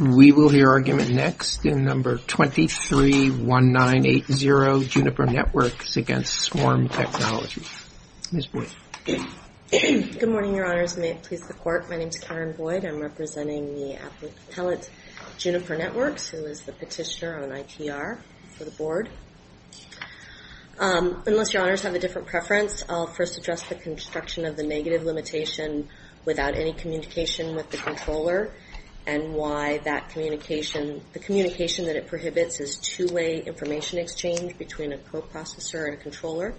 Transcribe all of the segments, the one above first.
We will hear argument next in No. 231980, Juniper Networks v. Swarm Technology. Ms. Boyd. Good morning, Your Honors, and may it please the Court, my name is Karen Boyd. I'm representing the appellate Juniper Networks, who is the petitioner on ITR for the Board. Unless Your Honors have a different preference, I'll first address the construction of the negative limitation without any communication with the controller, and why the communication that it prohibits is two-way information exchange between a coprocessor and a controller.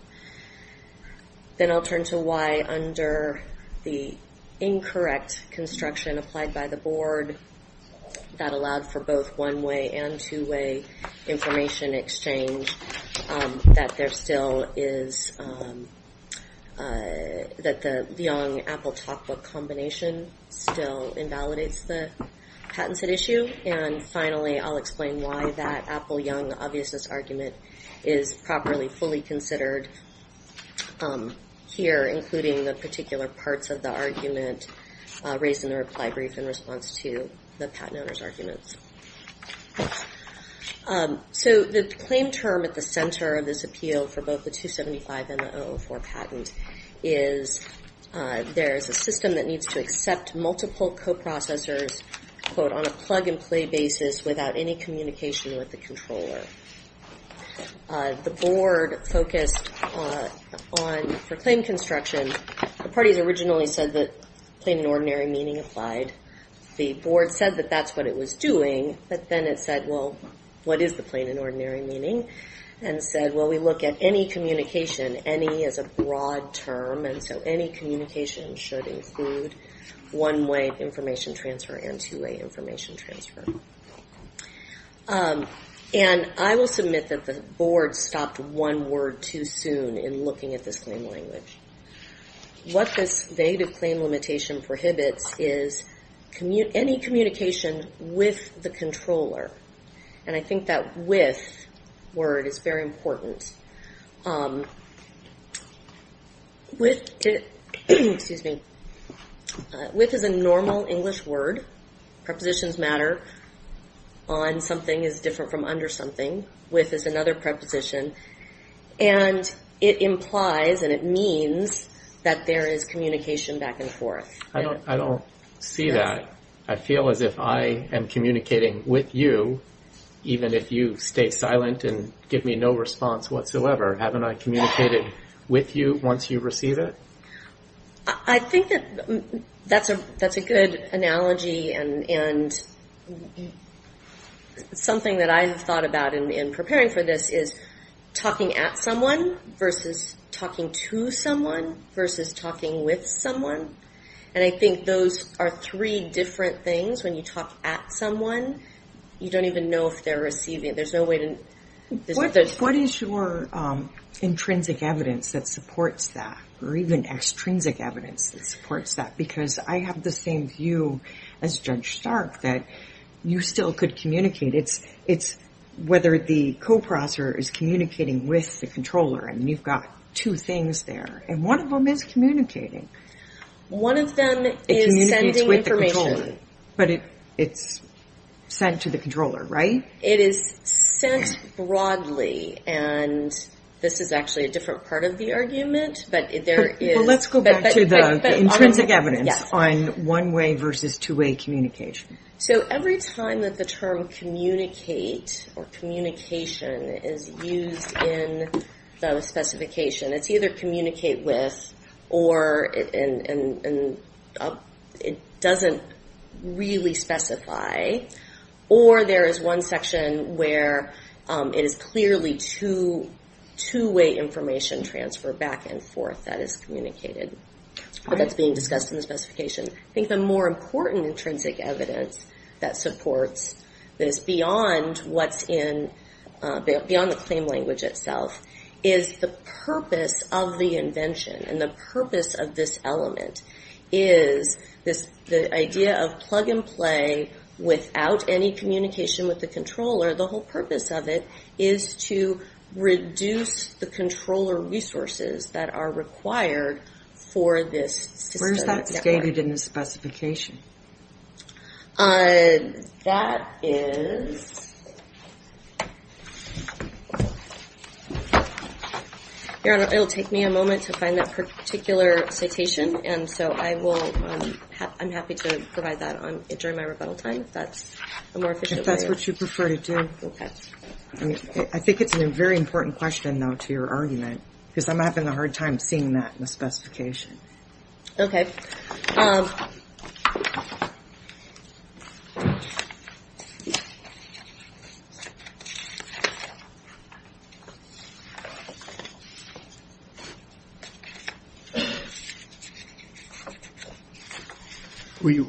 Then I'll turn to why under the incorrect construction applied by the Board that allowed for both one-way and two-way information exchange that the Young-Apple-Talkbook combination still invalidates the patents at issue. And finally, I'll explain why that Apple-Young-Obviousness argument is properly fully considered here, including the particular parts of the argument raised in the reply brief in response to the patent owner's arguments. So the claim term at the center of this appeal for both the 275 and the 004 patent is, there is a system that needs to accept multiple coprocessors, quote, on a plug-and-play basis without any communication with the controller. The Board focused on, for claim construction, the parties originally said that plain and ordinary meaning applied. The Board said that that's what it was doing, but then it said, well, what is the plain and ordinary meaning? And said, well, we look at any communication, any is a broad term, and so any communication should include one-way information transfer and two-way information transfer. And I will admit that the Board stopped one word too soon in looking at this claim language. What this negative claim limitation prohibits is any communication with the controller. And I think that with word is very important. With is a normal English word. Prepositions matter. On something is different from under something. With is another preposition. And it implies and it means that there is communication back and forth. I don't see that. I feel as if I am communicating with you, even if you stay silent and give me no response whatsoever. Haven't I communicated with you once you receive it? I think that's a good analogy. And something that I have thought about in preparing for this is talking at someone versus talking to someone versus talking with someone. And I think those are three different things. When you talk at someone, you don't even know if they're receiving it. There's no way to... What is your intrinsic evidence that supports that? Or even extrinsic evidence that supports that? Because I have the same view as Judge Stark that you still could communicate. It's whether the co-processor is communicating with the controller. And you've got two things there. And one of them is communicating. One of them is sending information. But it's sent to the controller, right? It is sent broadly. And this is actually a different part of the argument. But let's go back to the intrinsic evidence on one-way versus two-way communication. So every time that the term communicate or communication is used in the specification, it's either communicate with or it doesn't really specify. Or there is one section where it is clearly two-way information transfer back and forth that is communicated. But that's being discussed in the specification. I think the more important intrinsic evidence that supports this beyond what's in... Beyond the claim language itself is the purpose of the invention. And the purpose of this element is the idea of plug and play without any communication with the controller. The whole purpose of it is to reduce the controller resources that are required for this system. Where is that stated in the specification? That is... Your Honor, it will take me a moment to find that particular citation. And so I'm happy to provide that during my rebuttal time if that's a more efficient way. If that's what you prefer to do. I think it's a very important question, though, to your argument. Because I'm having a hard time seeing that in the specification. Okay.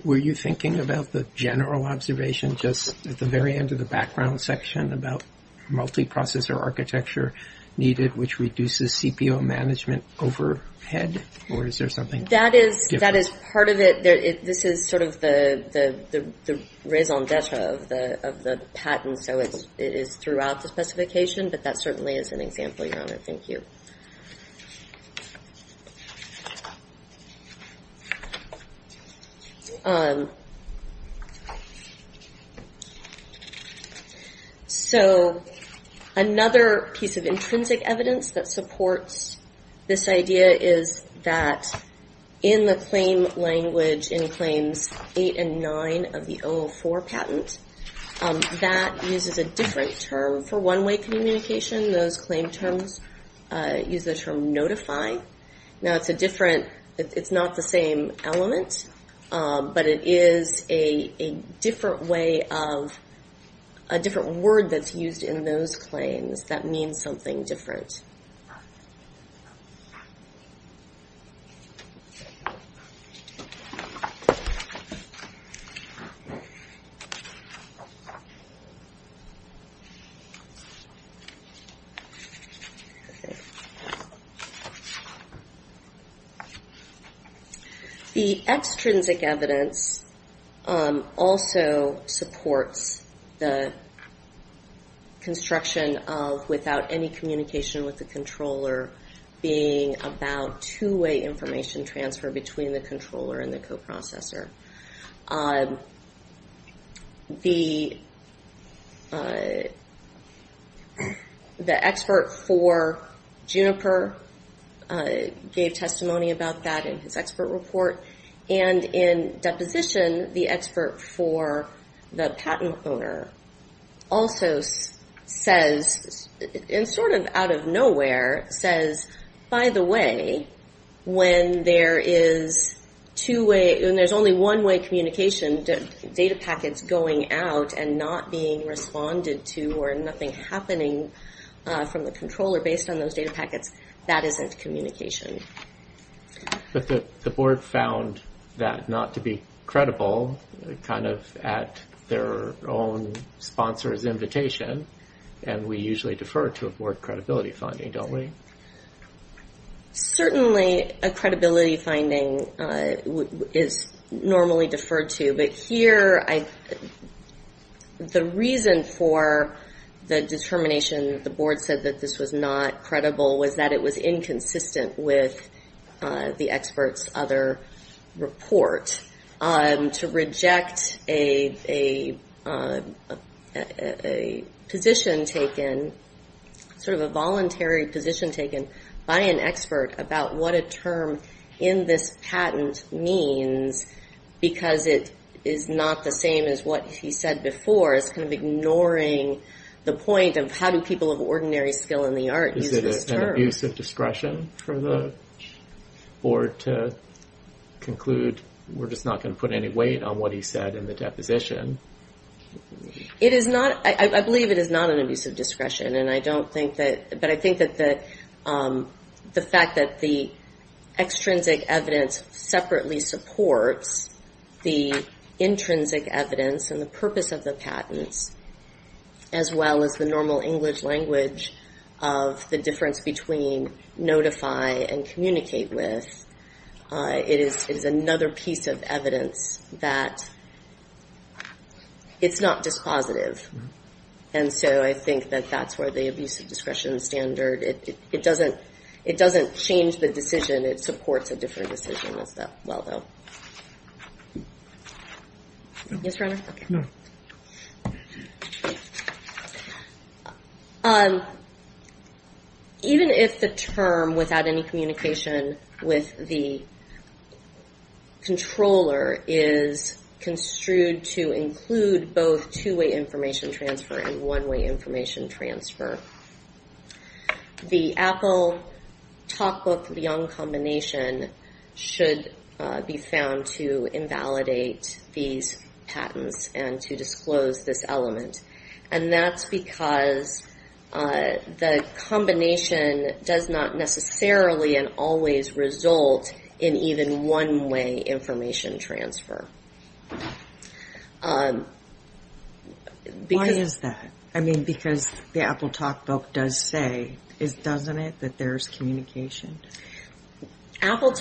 Were you thinking about the general observation just at the very end of the background section about multiprocessor architecture needed, which reduces CPO management overhead? Or is there something different? That is part of it. This is sort of the raison d'etre of the patent. So it is throughout the specification. But that certainly is an example, Your Honor. Thank you. So another piece of intrinsic evidence that supports this idea is that in the claim language in claims 8 and 9 of the O04 patent, that uses a different term. For one-way communication, those claim terms use the term notify. It's not the same element, but it is a different word that's used in those claims that means something different. Okay. The extrinsic evidence also supports the construction of without any communication with the controller being about two-way information transfer between the controller and the coprocessor. The expert for Juniper gave testimony about that in his expert report, and in deposition, the expert for the patent owner also says, and sort of out of nowhere, says, by the way, when there's only one-way communication, data packets going out and not being responded to or nothing happening from the controller based on those data packets, that isn't communication. But the board found that not to be credible, kind of at their own sponsor's invitation, and we usually defer to a board credibility finding, don't we? Certainly a credibility finding is normally deferred to, but here, the reason for the determination that the board said that this was not credible was that it was inconsistent with the expert's other report. To reject a position taken, sort of a voluntary position taken by an expert about what a term in this patent means, because it is not the same as what he said before, it's kind of ignoring the point of how do people of ordinary skill in the art use this term. Is it an abuse of discretion for the board to conclude we're going to use this term? We're just not going to put any weight on what he said in the deposition? I believe it is not an abuse of discretion, but I think that the fact that the extrinsic evidence separately supports the intrinsic evidence and the purpose of the patents, as well as the normal English language of the difference between notify and communicate with, it is another piece of evidence that it's not dispositive. And so I think that that's where the abuse of discretion standard, it doesn't change the decision. It supports a different decision as well, though. Yes, Your Honor? Even if the term without any communication with the controller is construed to include both two-way information transfer and one-way information transfer, the Apple-Talkbook-Leung combination should be found to invalidate the term. And that's because the combination does not necessarily and always result in even one-way information transfer. Why is that? I mean, because the Apple-Talkbook does say, doesn't it, that there's communication? Does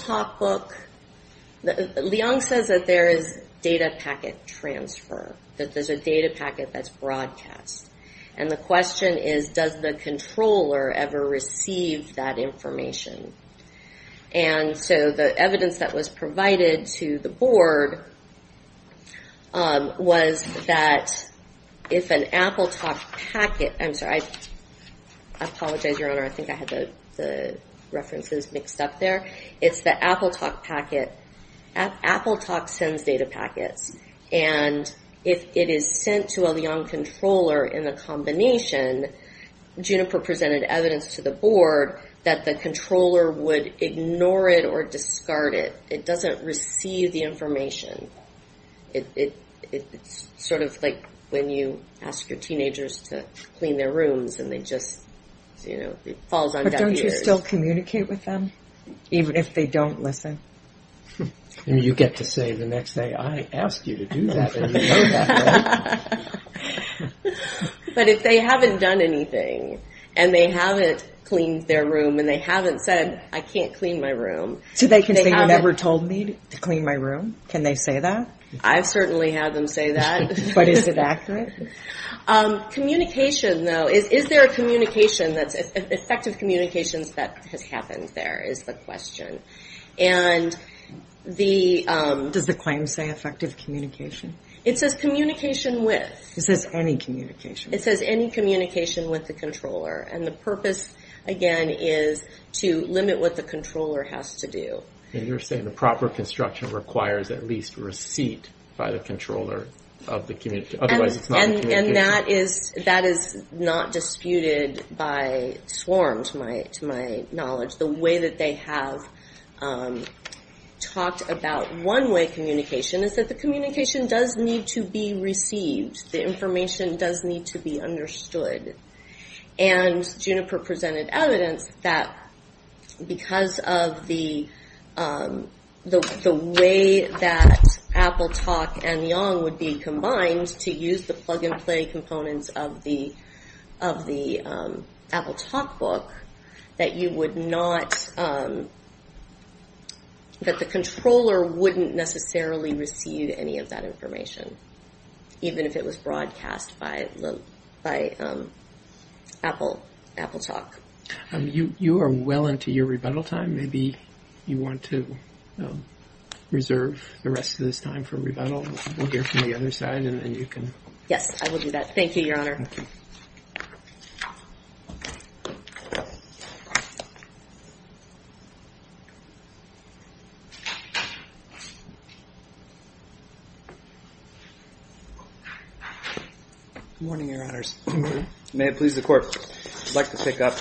data packet transfer, that there's a data packet that's broadcast? And the question is, does the controller ever receive that information? And so the evidence that was provided to the board was that if an Apple-Talk packet, I'm sorry. I apologize, Your Honor, I think I had the references mixed up there. It's the Apple-Talk packet, Apple-Talk sends data packets. And if it is sent to a Leung controller in a combination, Juniper presented evidence to the board that the controller would ignore it or discard it. It doesn't receive the information. It's sort of like when you ask your teenagers to clean their rooms and they just, you know, it falls on deaf ears. Do they still communicate with them, even if they don't listen? I mean, you get to say the next day, I asked you to do that and you know that. But if they haven't done anything and they haven't cleaned their room and they haven't said, I can't clean my room. So they can say, you never told me to clean my room, can they say that? I've certainly had them say that. But is it accurate? Communication, though, is there a communication that's, effective communications that has happened there is the question. Does the claim say effective communication? It says communication with. It says any communication. It says any communication with the controller and the purpose, again, is to limit what the controller has to do. And you're saying the proper construction requires at least receipt by the controller of the community. And that is that is not disputed by sworn to my to my knowledge. The way that they have talked about one way communication is that the communication does need to be received. The information does need to be understood. And Juniper presented evidence that because of the way that AppleTalk and Yong would be combined to use the plug and play components of the AppleTalk book, that you would not, that the controller wouldn't necessarily receive any of that information. Even if it was broadcast by AppleAppleTalk. You are well into your rebuttal time. Maybe you want to reserve the rest of this time for rebuttal. Yes, I will do that. Thank you, Your Honor. Good morning, Your Honors. May it please the Court, I would like to pick up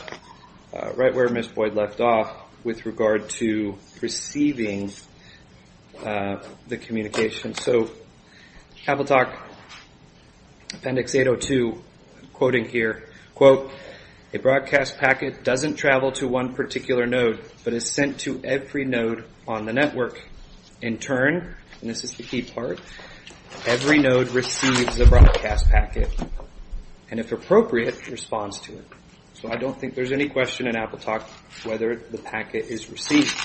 right where Ms. Boyd left off with regard to receiving the communication. So AppleTalk Appendix 802 quoting here, quote, a broadcast packet doesn't travel to one particular node, but is sent to every node on the network. In turn, and this is the key part, every node receives a broadcast packet, and if appropriate, responds to it. So I don't think there's any question in AppleTalk whether the packet is received.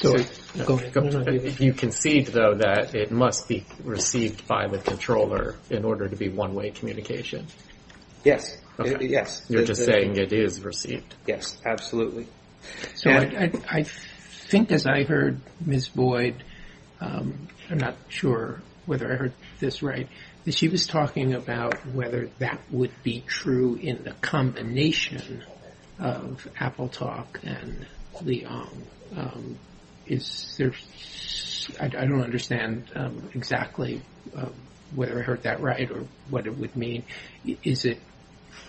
You concede, though, that it must be received by the controller in order to be one way communication. Yes, yes. You're just saying it is received. Yes, absolutely. So I think as I heard Ms. Boyd, I'm not sure whether I heard this right, that she was talking about whether that would be true in the combination of AppleTalk and Leong. I don't understand exactly whether I heard that right or what it would mean. Is it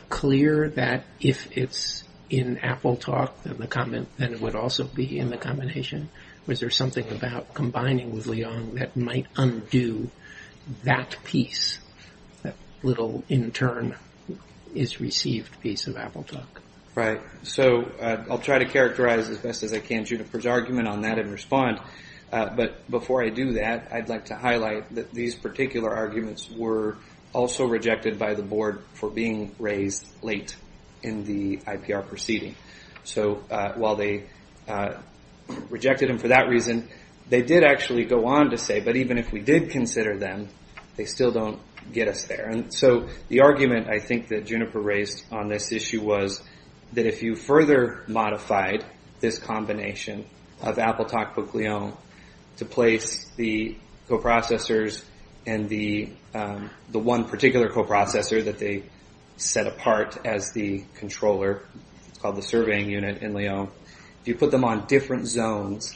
clear that if it's in AppleTalk, then it would also be in the combination? Was there something about combining with Leong that might undo that piece, that little in turn is received piece of AppleTalk? Right. So I'll try to characterize as best as I can Juniper's argument on that and respond. I think Juniper's argument was that AppleTalk received the packet by the board for being raised late in the IPR proceeding. So while they rejected him for that reason, they did actually go on to say, but even if we did consider them, they still don't get us there. And so the argument I think that Juniper raised on this issue was that if you further modified this combination of AppleTalk with Leong to place the packet on a particular coprocessor that they set apart as the controller, it's called the surveying unit in Leong. If you put them on different zones,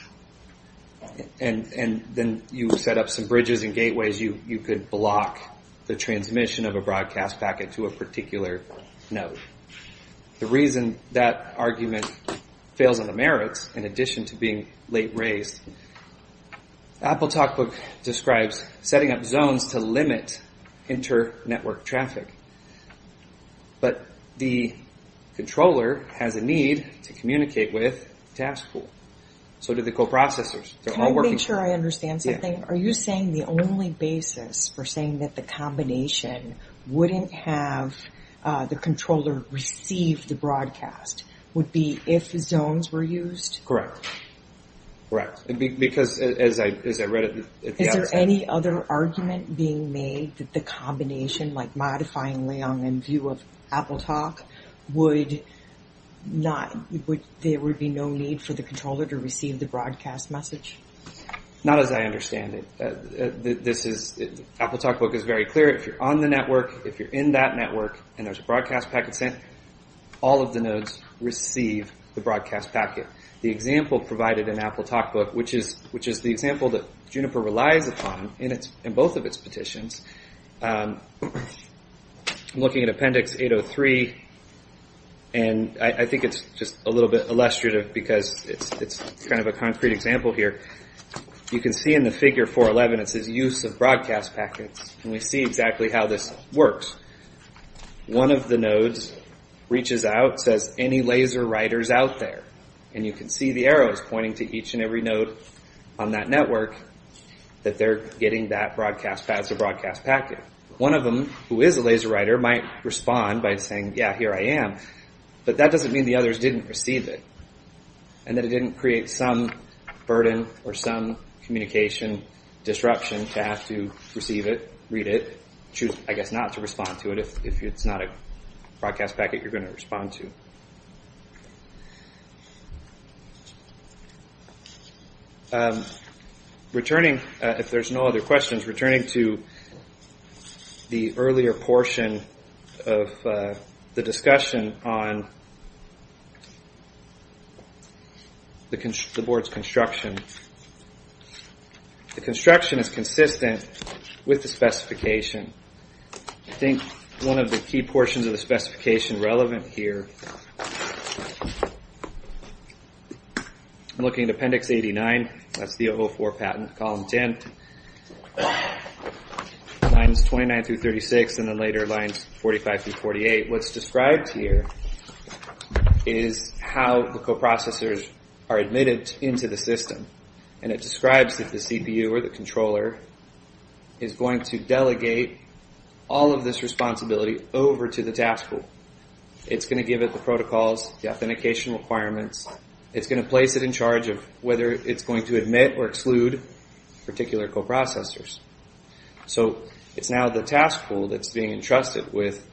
and then you set up some bridges and gateways, you could block the transmission of a broadcast packet to a particular node. The reason that argument fails on the merits, in addition to being late raised, AppleTalk describes setting up zones to limit interoperability. And so that's a way to reduce their network traffic. But the controller has a need to communicate with the task pool. So do the coprocessors. Can I make sure I understand something? Are you saying the only basis for saying that the combination wouldn't have the controller receive the broadcast would be if zones were used? Correct. Is there any other argument being made that the combination, like modifying Leong in view of AppleTalk, there would be no need for the controller to receive the broadcast message? Not as I understand it. AppleTalk book is very clear. If you're on the network, if you're in that network, and there's a broadcast packet sent, all of the nodes receive the broadcast packet. The example provided in AppleTalk book, which is the example that Juniper relies upon in both of its petitions. I'm looking at Appendix 803, and I think it's just a little bit illustrative because it's kind of a concrete example here. You can see in the figure 411, it says use of broadcast packets, and we see exactly how this works. One of the nodes reaches out, says, any laser writers out there? And you can see the arrows pointing to each and every node on that network that they're getting that broadcast as a broadcast packet. One of them, who is a laser writer, might respond by saying, yeah, here I am. But that doesn't mean the others didn't receive it, and that it didn't create some burden or some communication disruption to have to receive it, read it, choose, I guess, not to respond to it if it's not a broadcast packet you're going to respond to. Returning, if there's no other questions, returning to the earlier portion of the discussion, on the board's construction, the construction is consistent with the specification. I think one of the key portions of the specification relevant here, I'm looking at Appendix 89. That's the O4 patent, column 10, lines 29 through 36, and then later lines 45 through 48. What's described here is how the coprocessors are admitted into the system. And it describes that the CPU or the controller is going to delegate all of this responsibility over to the task pool. It's going to give it the protocols, the authentication requirements. It's going to place it in charge of whether it's going to admit or exclude particular coprocessors. So it's now the task pool that's being entrusted with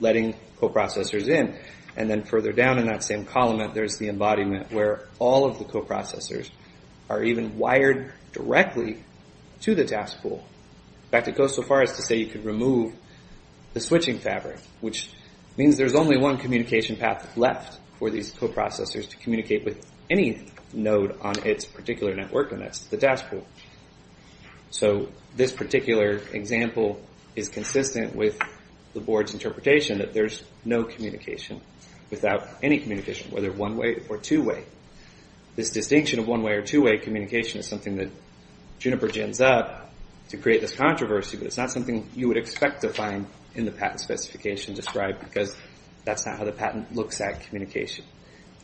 letting coprocessors in. And then further down in that same column, there's the embodiment where all of the coprocessors are even wired directly to the task pool. In fact, it goes so far as to say you could remove the switching fabric, which means there's only one communication path left for these coprocessors to communicate with any node on its particular network, and that's the task pool. So this particular example is consistent with the board's interpretation that there's no communication without any communication, whether one-way or two-way. This distinction of one-way or two-way communication is something that Juniper jams up to create this controversy, but it's not something you would expect to find in the patent specification described, because that's not how the patent looks at communication.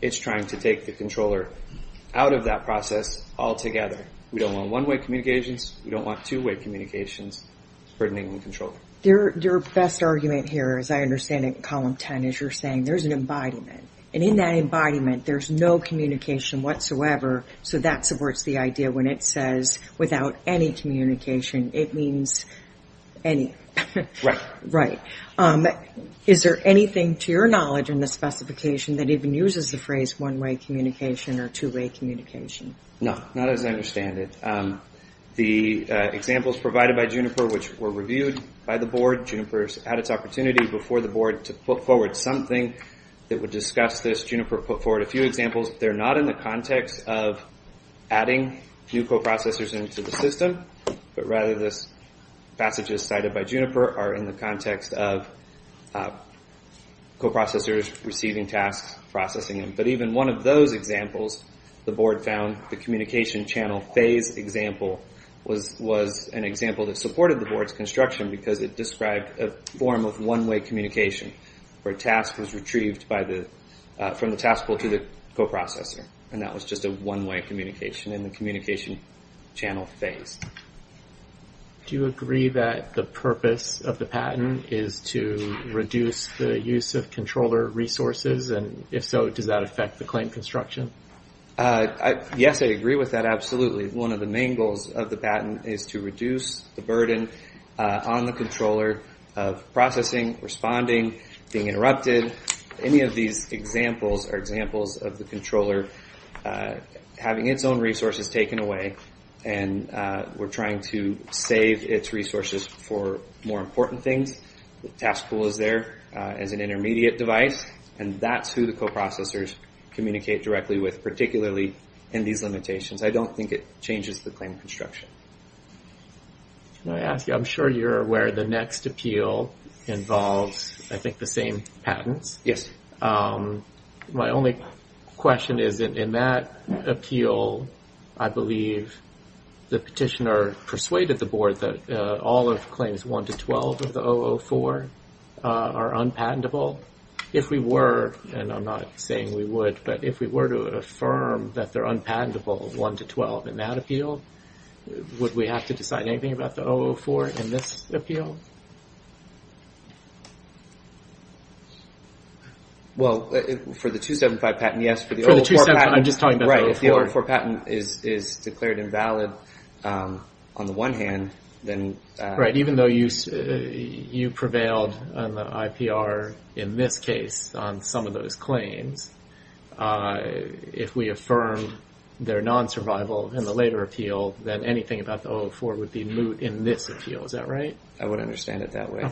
It's trying to take the controller out of that process altogether. We don't want one-way communications, we don't want two-way communications burdening the controller. Your best argument here, as I understand it in column 10, is you're saying there's an embodiment. And in that embodiment, there's no communication whatsoever, so that supports the idea when it says without any communication, it means any. Right. Is there anything to your knowledge in the specification that even uses the phrase one-way communication or two-way communication? No, not as I understand it. The examples provided by Juniper, which were reviewed by the board, Juniper had its opportunity before the board to put forward something that would discuss this. Juniper put forward a few examples. They're not in the context of adding new coprocessors into the system, but rather, the passages cited by Juniper are in the context of coprocessors receiving tasks, processing them. But even one of those examples the board found, the communication channel phase example, was an example that supported the board's construction, because it described a form of one-way communication, where a task was retrieved from the task pool to the coprocessor. And that was just a one-way communication in the communication channel phase. Do you agree that the purpose of the patent is to reduce the use of controller resources, and if so, does that affect the claim construction? Yes, I agree with that, absolutely. One of the main goals of the patent is to reduce the burden on the controller of processing, responding, being interrupted. Any of these examples are examples of the controller having its own resources taken away, and we're trying to save its resources for more important things. The task pool is there as an intermediate device, and that's who the coprocessors communicate directly with, particularly in these limitations. I don't think it changes the claim construction. Can I ask you, I'm sure you're aware the next appeal involves, I think, the same patents. Yes. My only question is, in that appeal, I believe the petitioner persuaded the board that all of claims 1 to 12 of the 004 are unpatentable. If we were, and I'm not saying we would, but if we were to affirm that they're unpatentable, 1 to 12 in that appeal, would that be a problem? Would we have to decide anything about the 004 in this appeal? Well, for the 275 patent, yes. For the 275, I'm just talking about the 004. Right, if the 004 patent is declared invalid on the one hand, then... Right, even though you prevailed on the IPR in this case on some of those claims, if we affirm they're non-survival in the later appeal, then we have to decide anything about the 004 with the moot in this appeal. Is that right? I would understand it that way.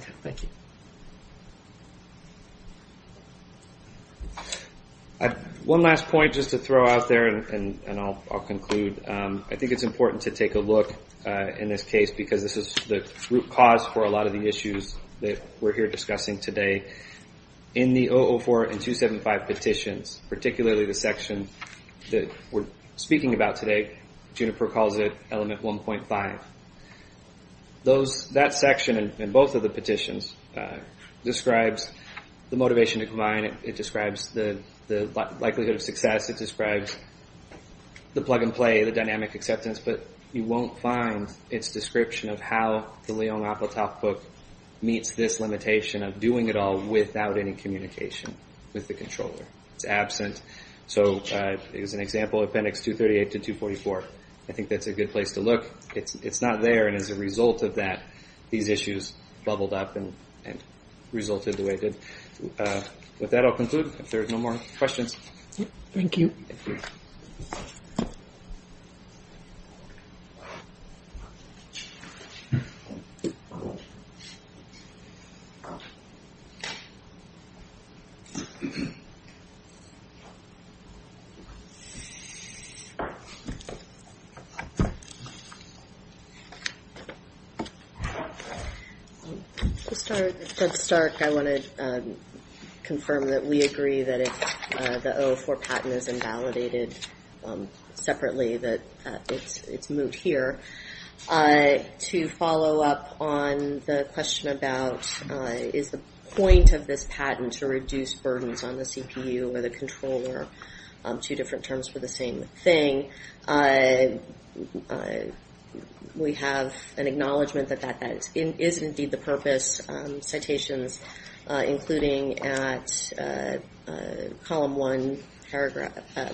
One last point, just to throw out there, and I'll conclude. I think it's important to take a look in this case, because this is the root cause for a lot of the issues that we're here discussing today. In the 004 and 275 petitions, particularly the section that we're speaking about today, Juniper calls it element 1.5. That section in both of the petitions describes the motivation to combine. It describes the likelihood of success. It describes the plug-and-play, the dynamic acceptance. But you won't find its description of how the Leon Apatow book meets this limitation of doing it all without any communication with the controller. It's absent. So as an example, Appendix 238 to 244, I think that's a good place to look. It's not there, and as a result of that, these issues bubbled up and resulted the way it did. With that, I'll conclude, if there are no more questions. Thank you. Just to start, I want to confirm that we agree that if the 004 patent is invalidated separately, that it's moved here. To follow up on the question about, is the point of this patent to reduce burdens on the CPU or the controller, two different terms for the same thing, we have an acknowledgment that that is indeed the purpose of citations, including at column 1,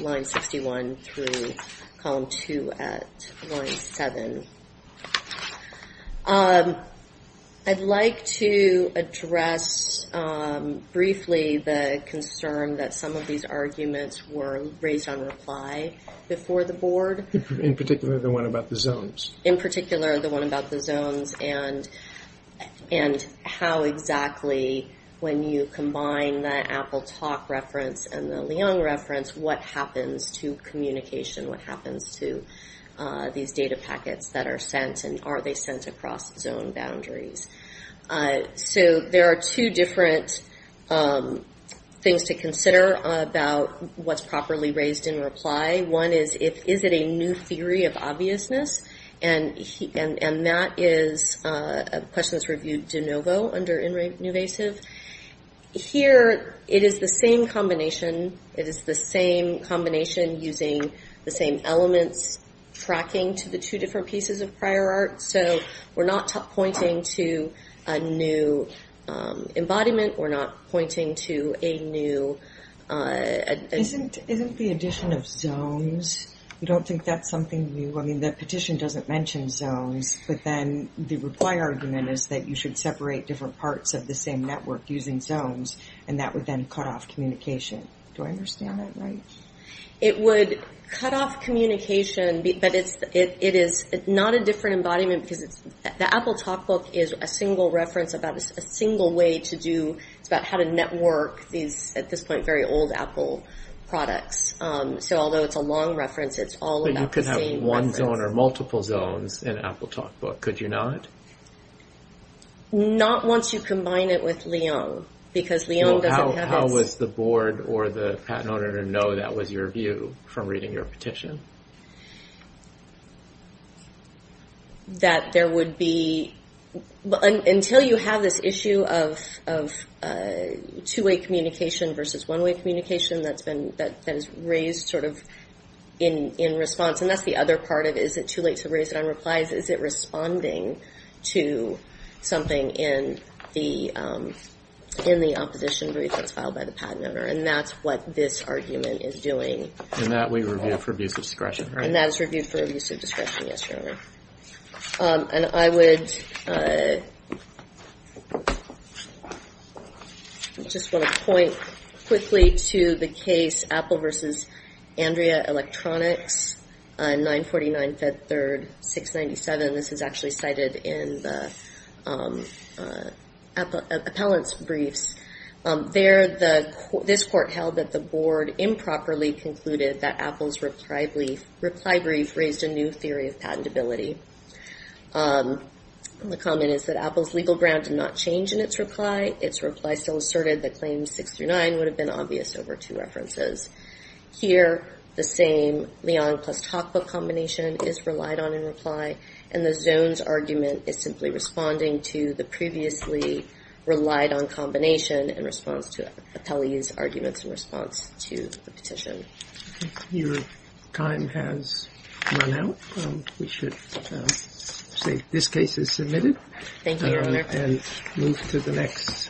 line 61, through column 2 at line 7. I'd like to address briefly the concern that some of these arguments were raised on reply before the board. In particular, the one about the zones. And how exactly, when you combine the Apple Talk reference and the Leon reference, what happens to communication, what happens to these data packets that are sent, and are they sent across zone boundaries? There are two different things to consider about what's properly raised in reply. One is, is it a new theory of obviousness? And that is a question that's reviewed de novo under Innovasive. Here, it is the same combination using the same elements, tracking to the two different pieces of prior art, so we're not pointing to a new embodiment, we're not pointing to a new... Isn't the addition of zones, I mean the petition doesn't mention zones, but then the reply argument is that you should separate different parts of the same network using zones, and that would then cut off communication. Do I understand that right? It would cut off communication, but it is not a different embodiment, because the Apple Talk book is a single reference about a single way to do, it's about how to network these, at this point, very old Apple products. So although it's a long reference, it's all about the same reference. You can't have one zone or multiple zones in Apple Talk book, could you not? Not once you combine it with Leone, because Leone doesn't have its... How would the board or the patent owner know that was your view from reading your petition? Until you have this issue of two-way communication versus one-way communication that is raised sort of in response, and that's the other part of, is it too late to raise it on replies, is it responding to something in the opposition brief that's filed by the patent owner, and that's what this argument is doing. And that we review for abuse of discretion, right? And that is reviewed for abuse of discretion, yes, Your Honor. And I would just want to point quickly to the case Apple versus Andrea Electronics, 949 Fed Third, 697. This is actually cited in the appellant's briefs. There, this court held that the board improperly concluded that Apple's reply brief raised a new theory of patentability. The comment is that Apple's legal ground did not change in its reply. Its reply still asserted that claims six through nine would have been obvious over two references. Here, the same Leone plus Talk book combination is relied on in reply, and the zones argument is simply responding to the previously relied on combination in response to the petition.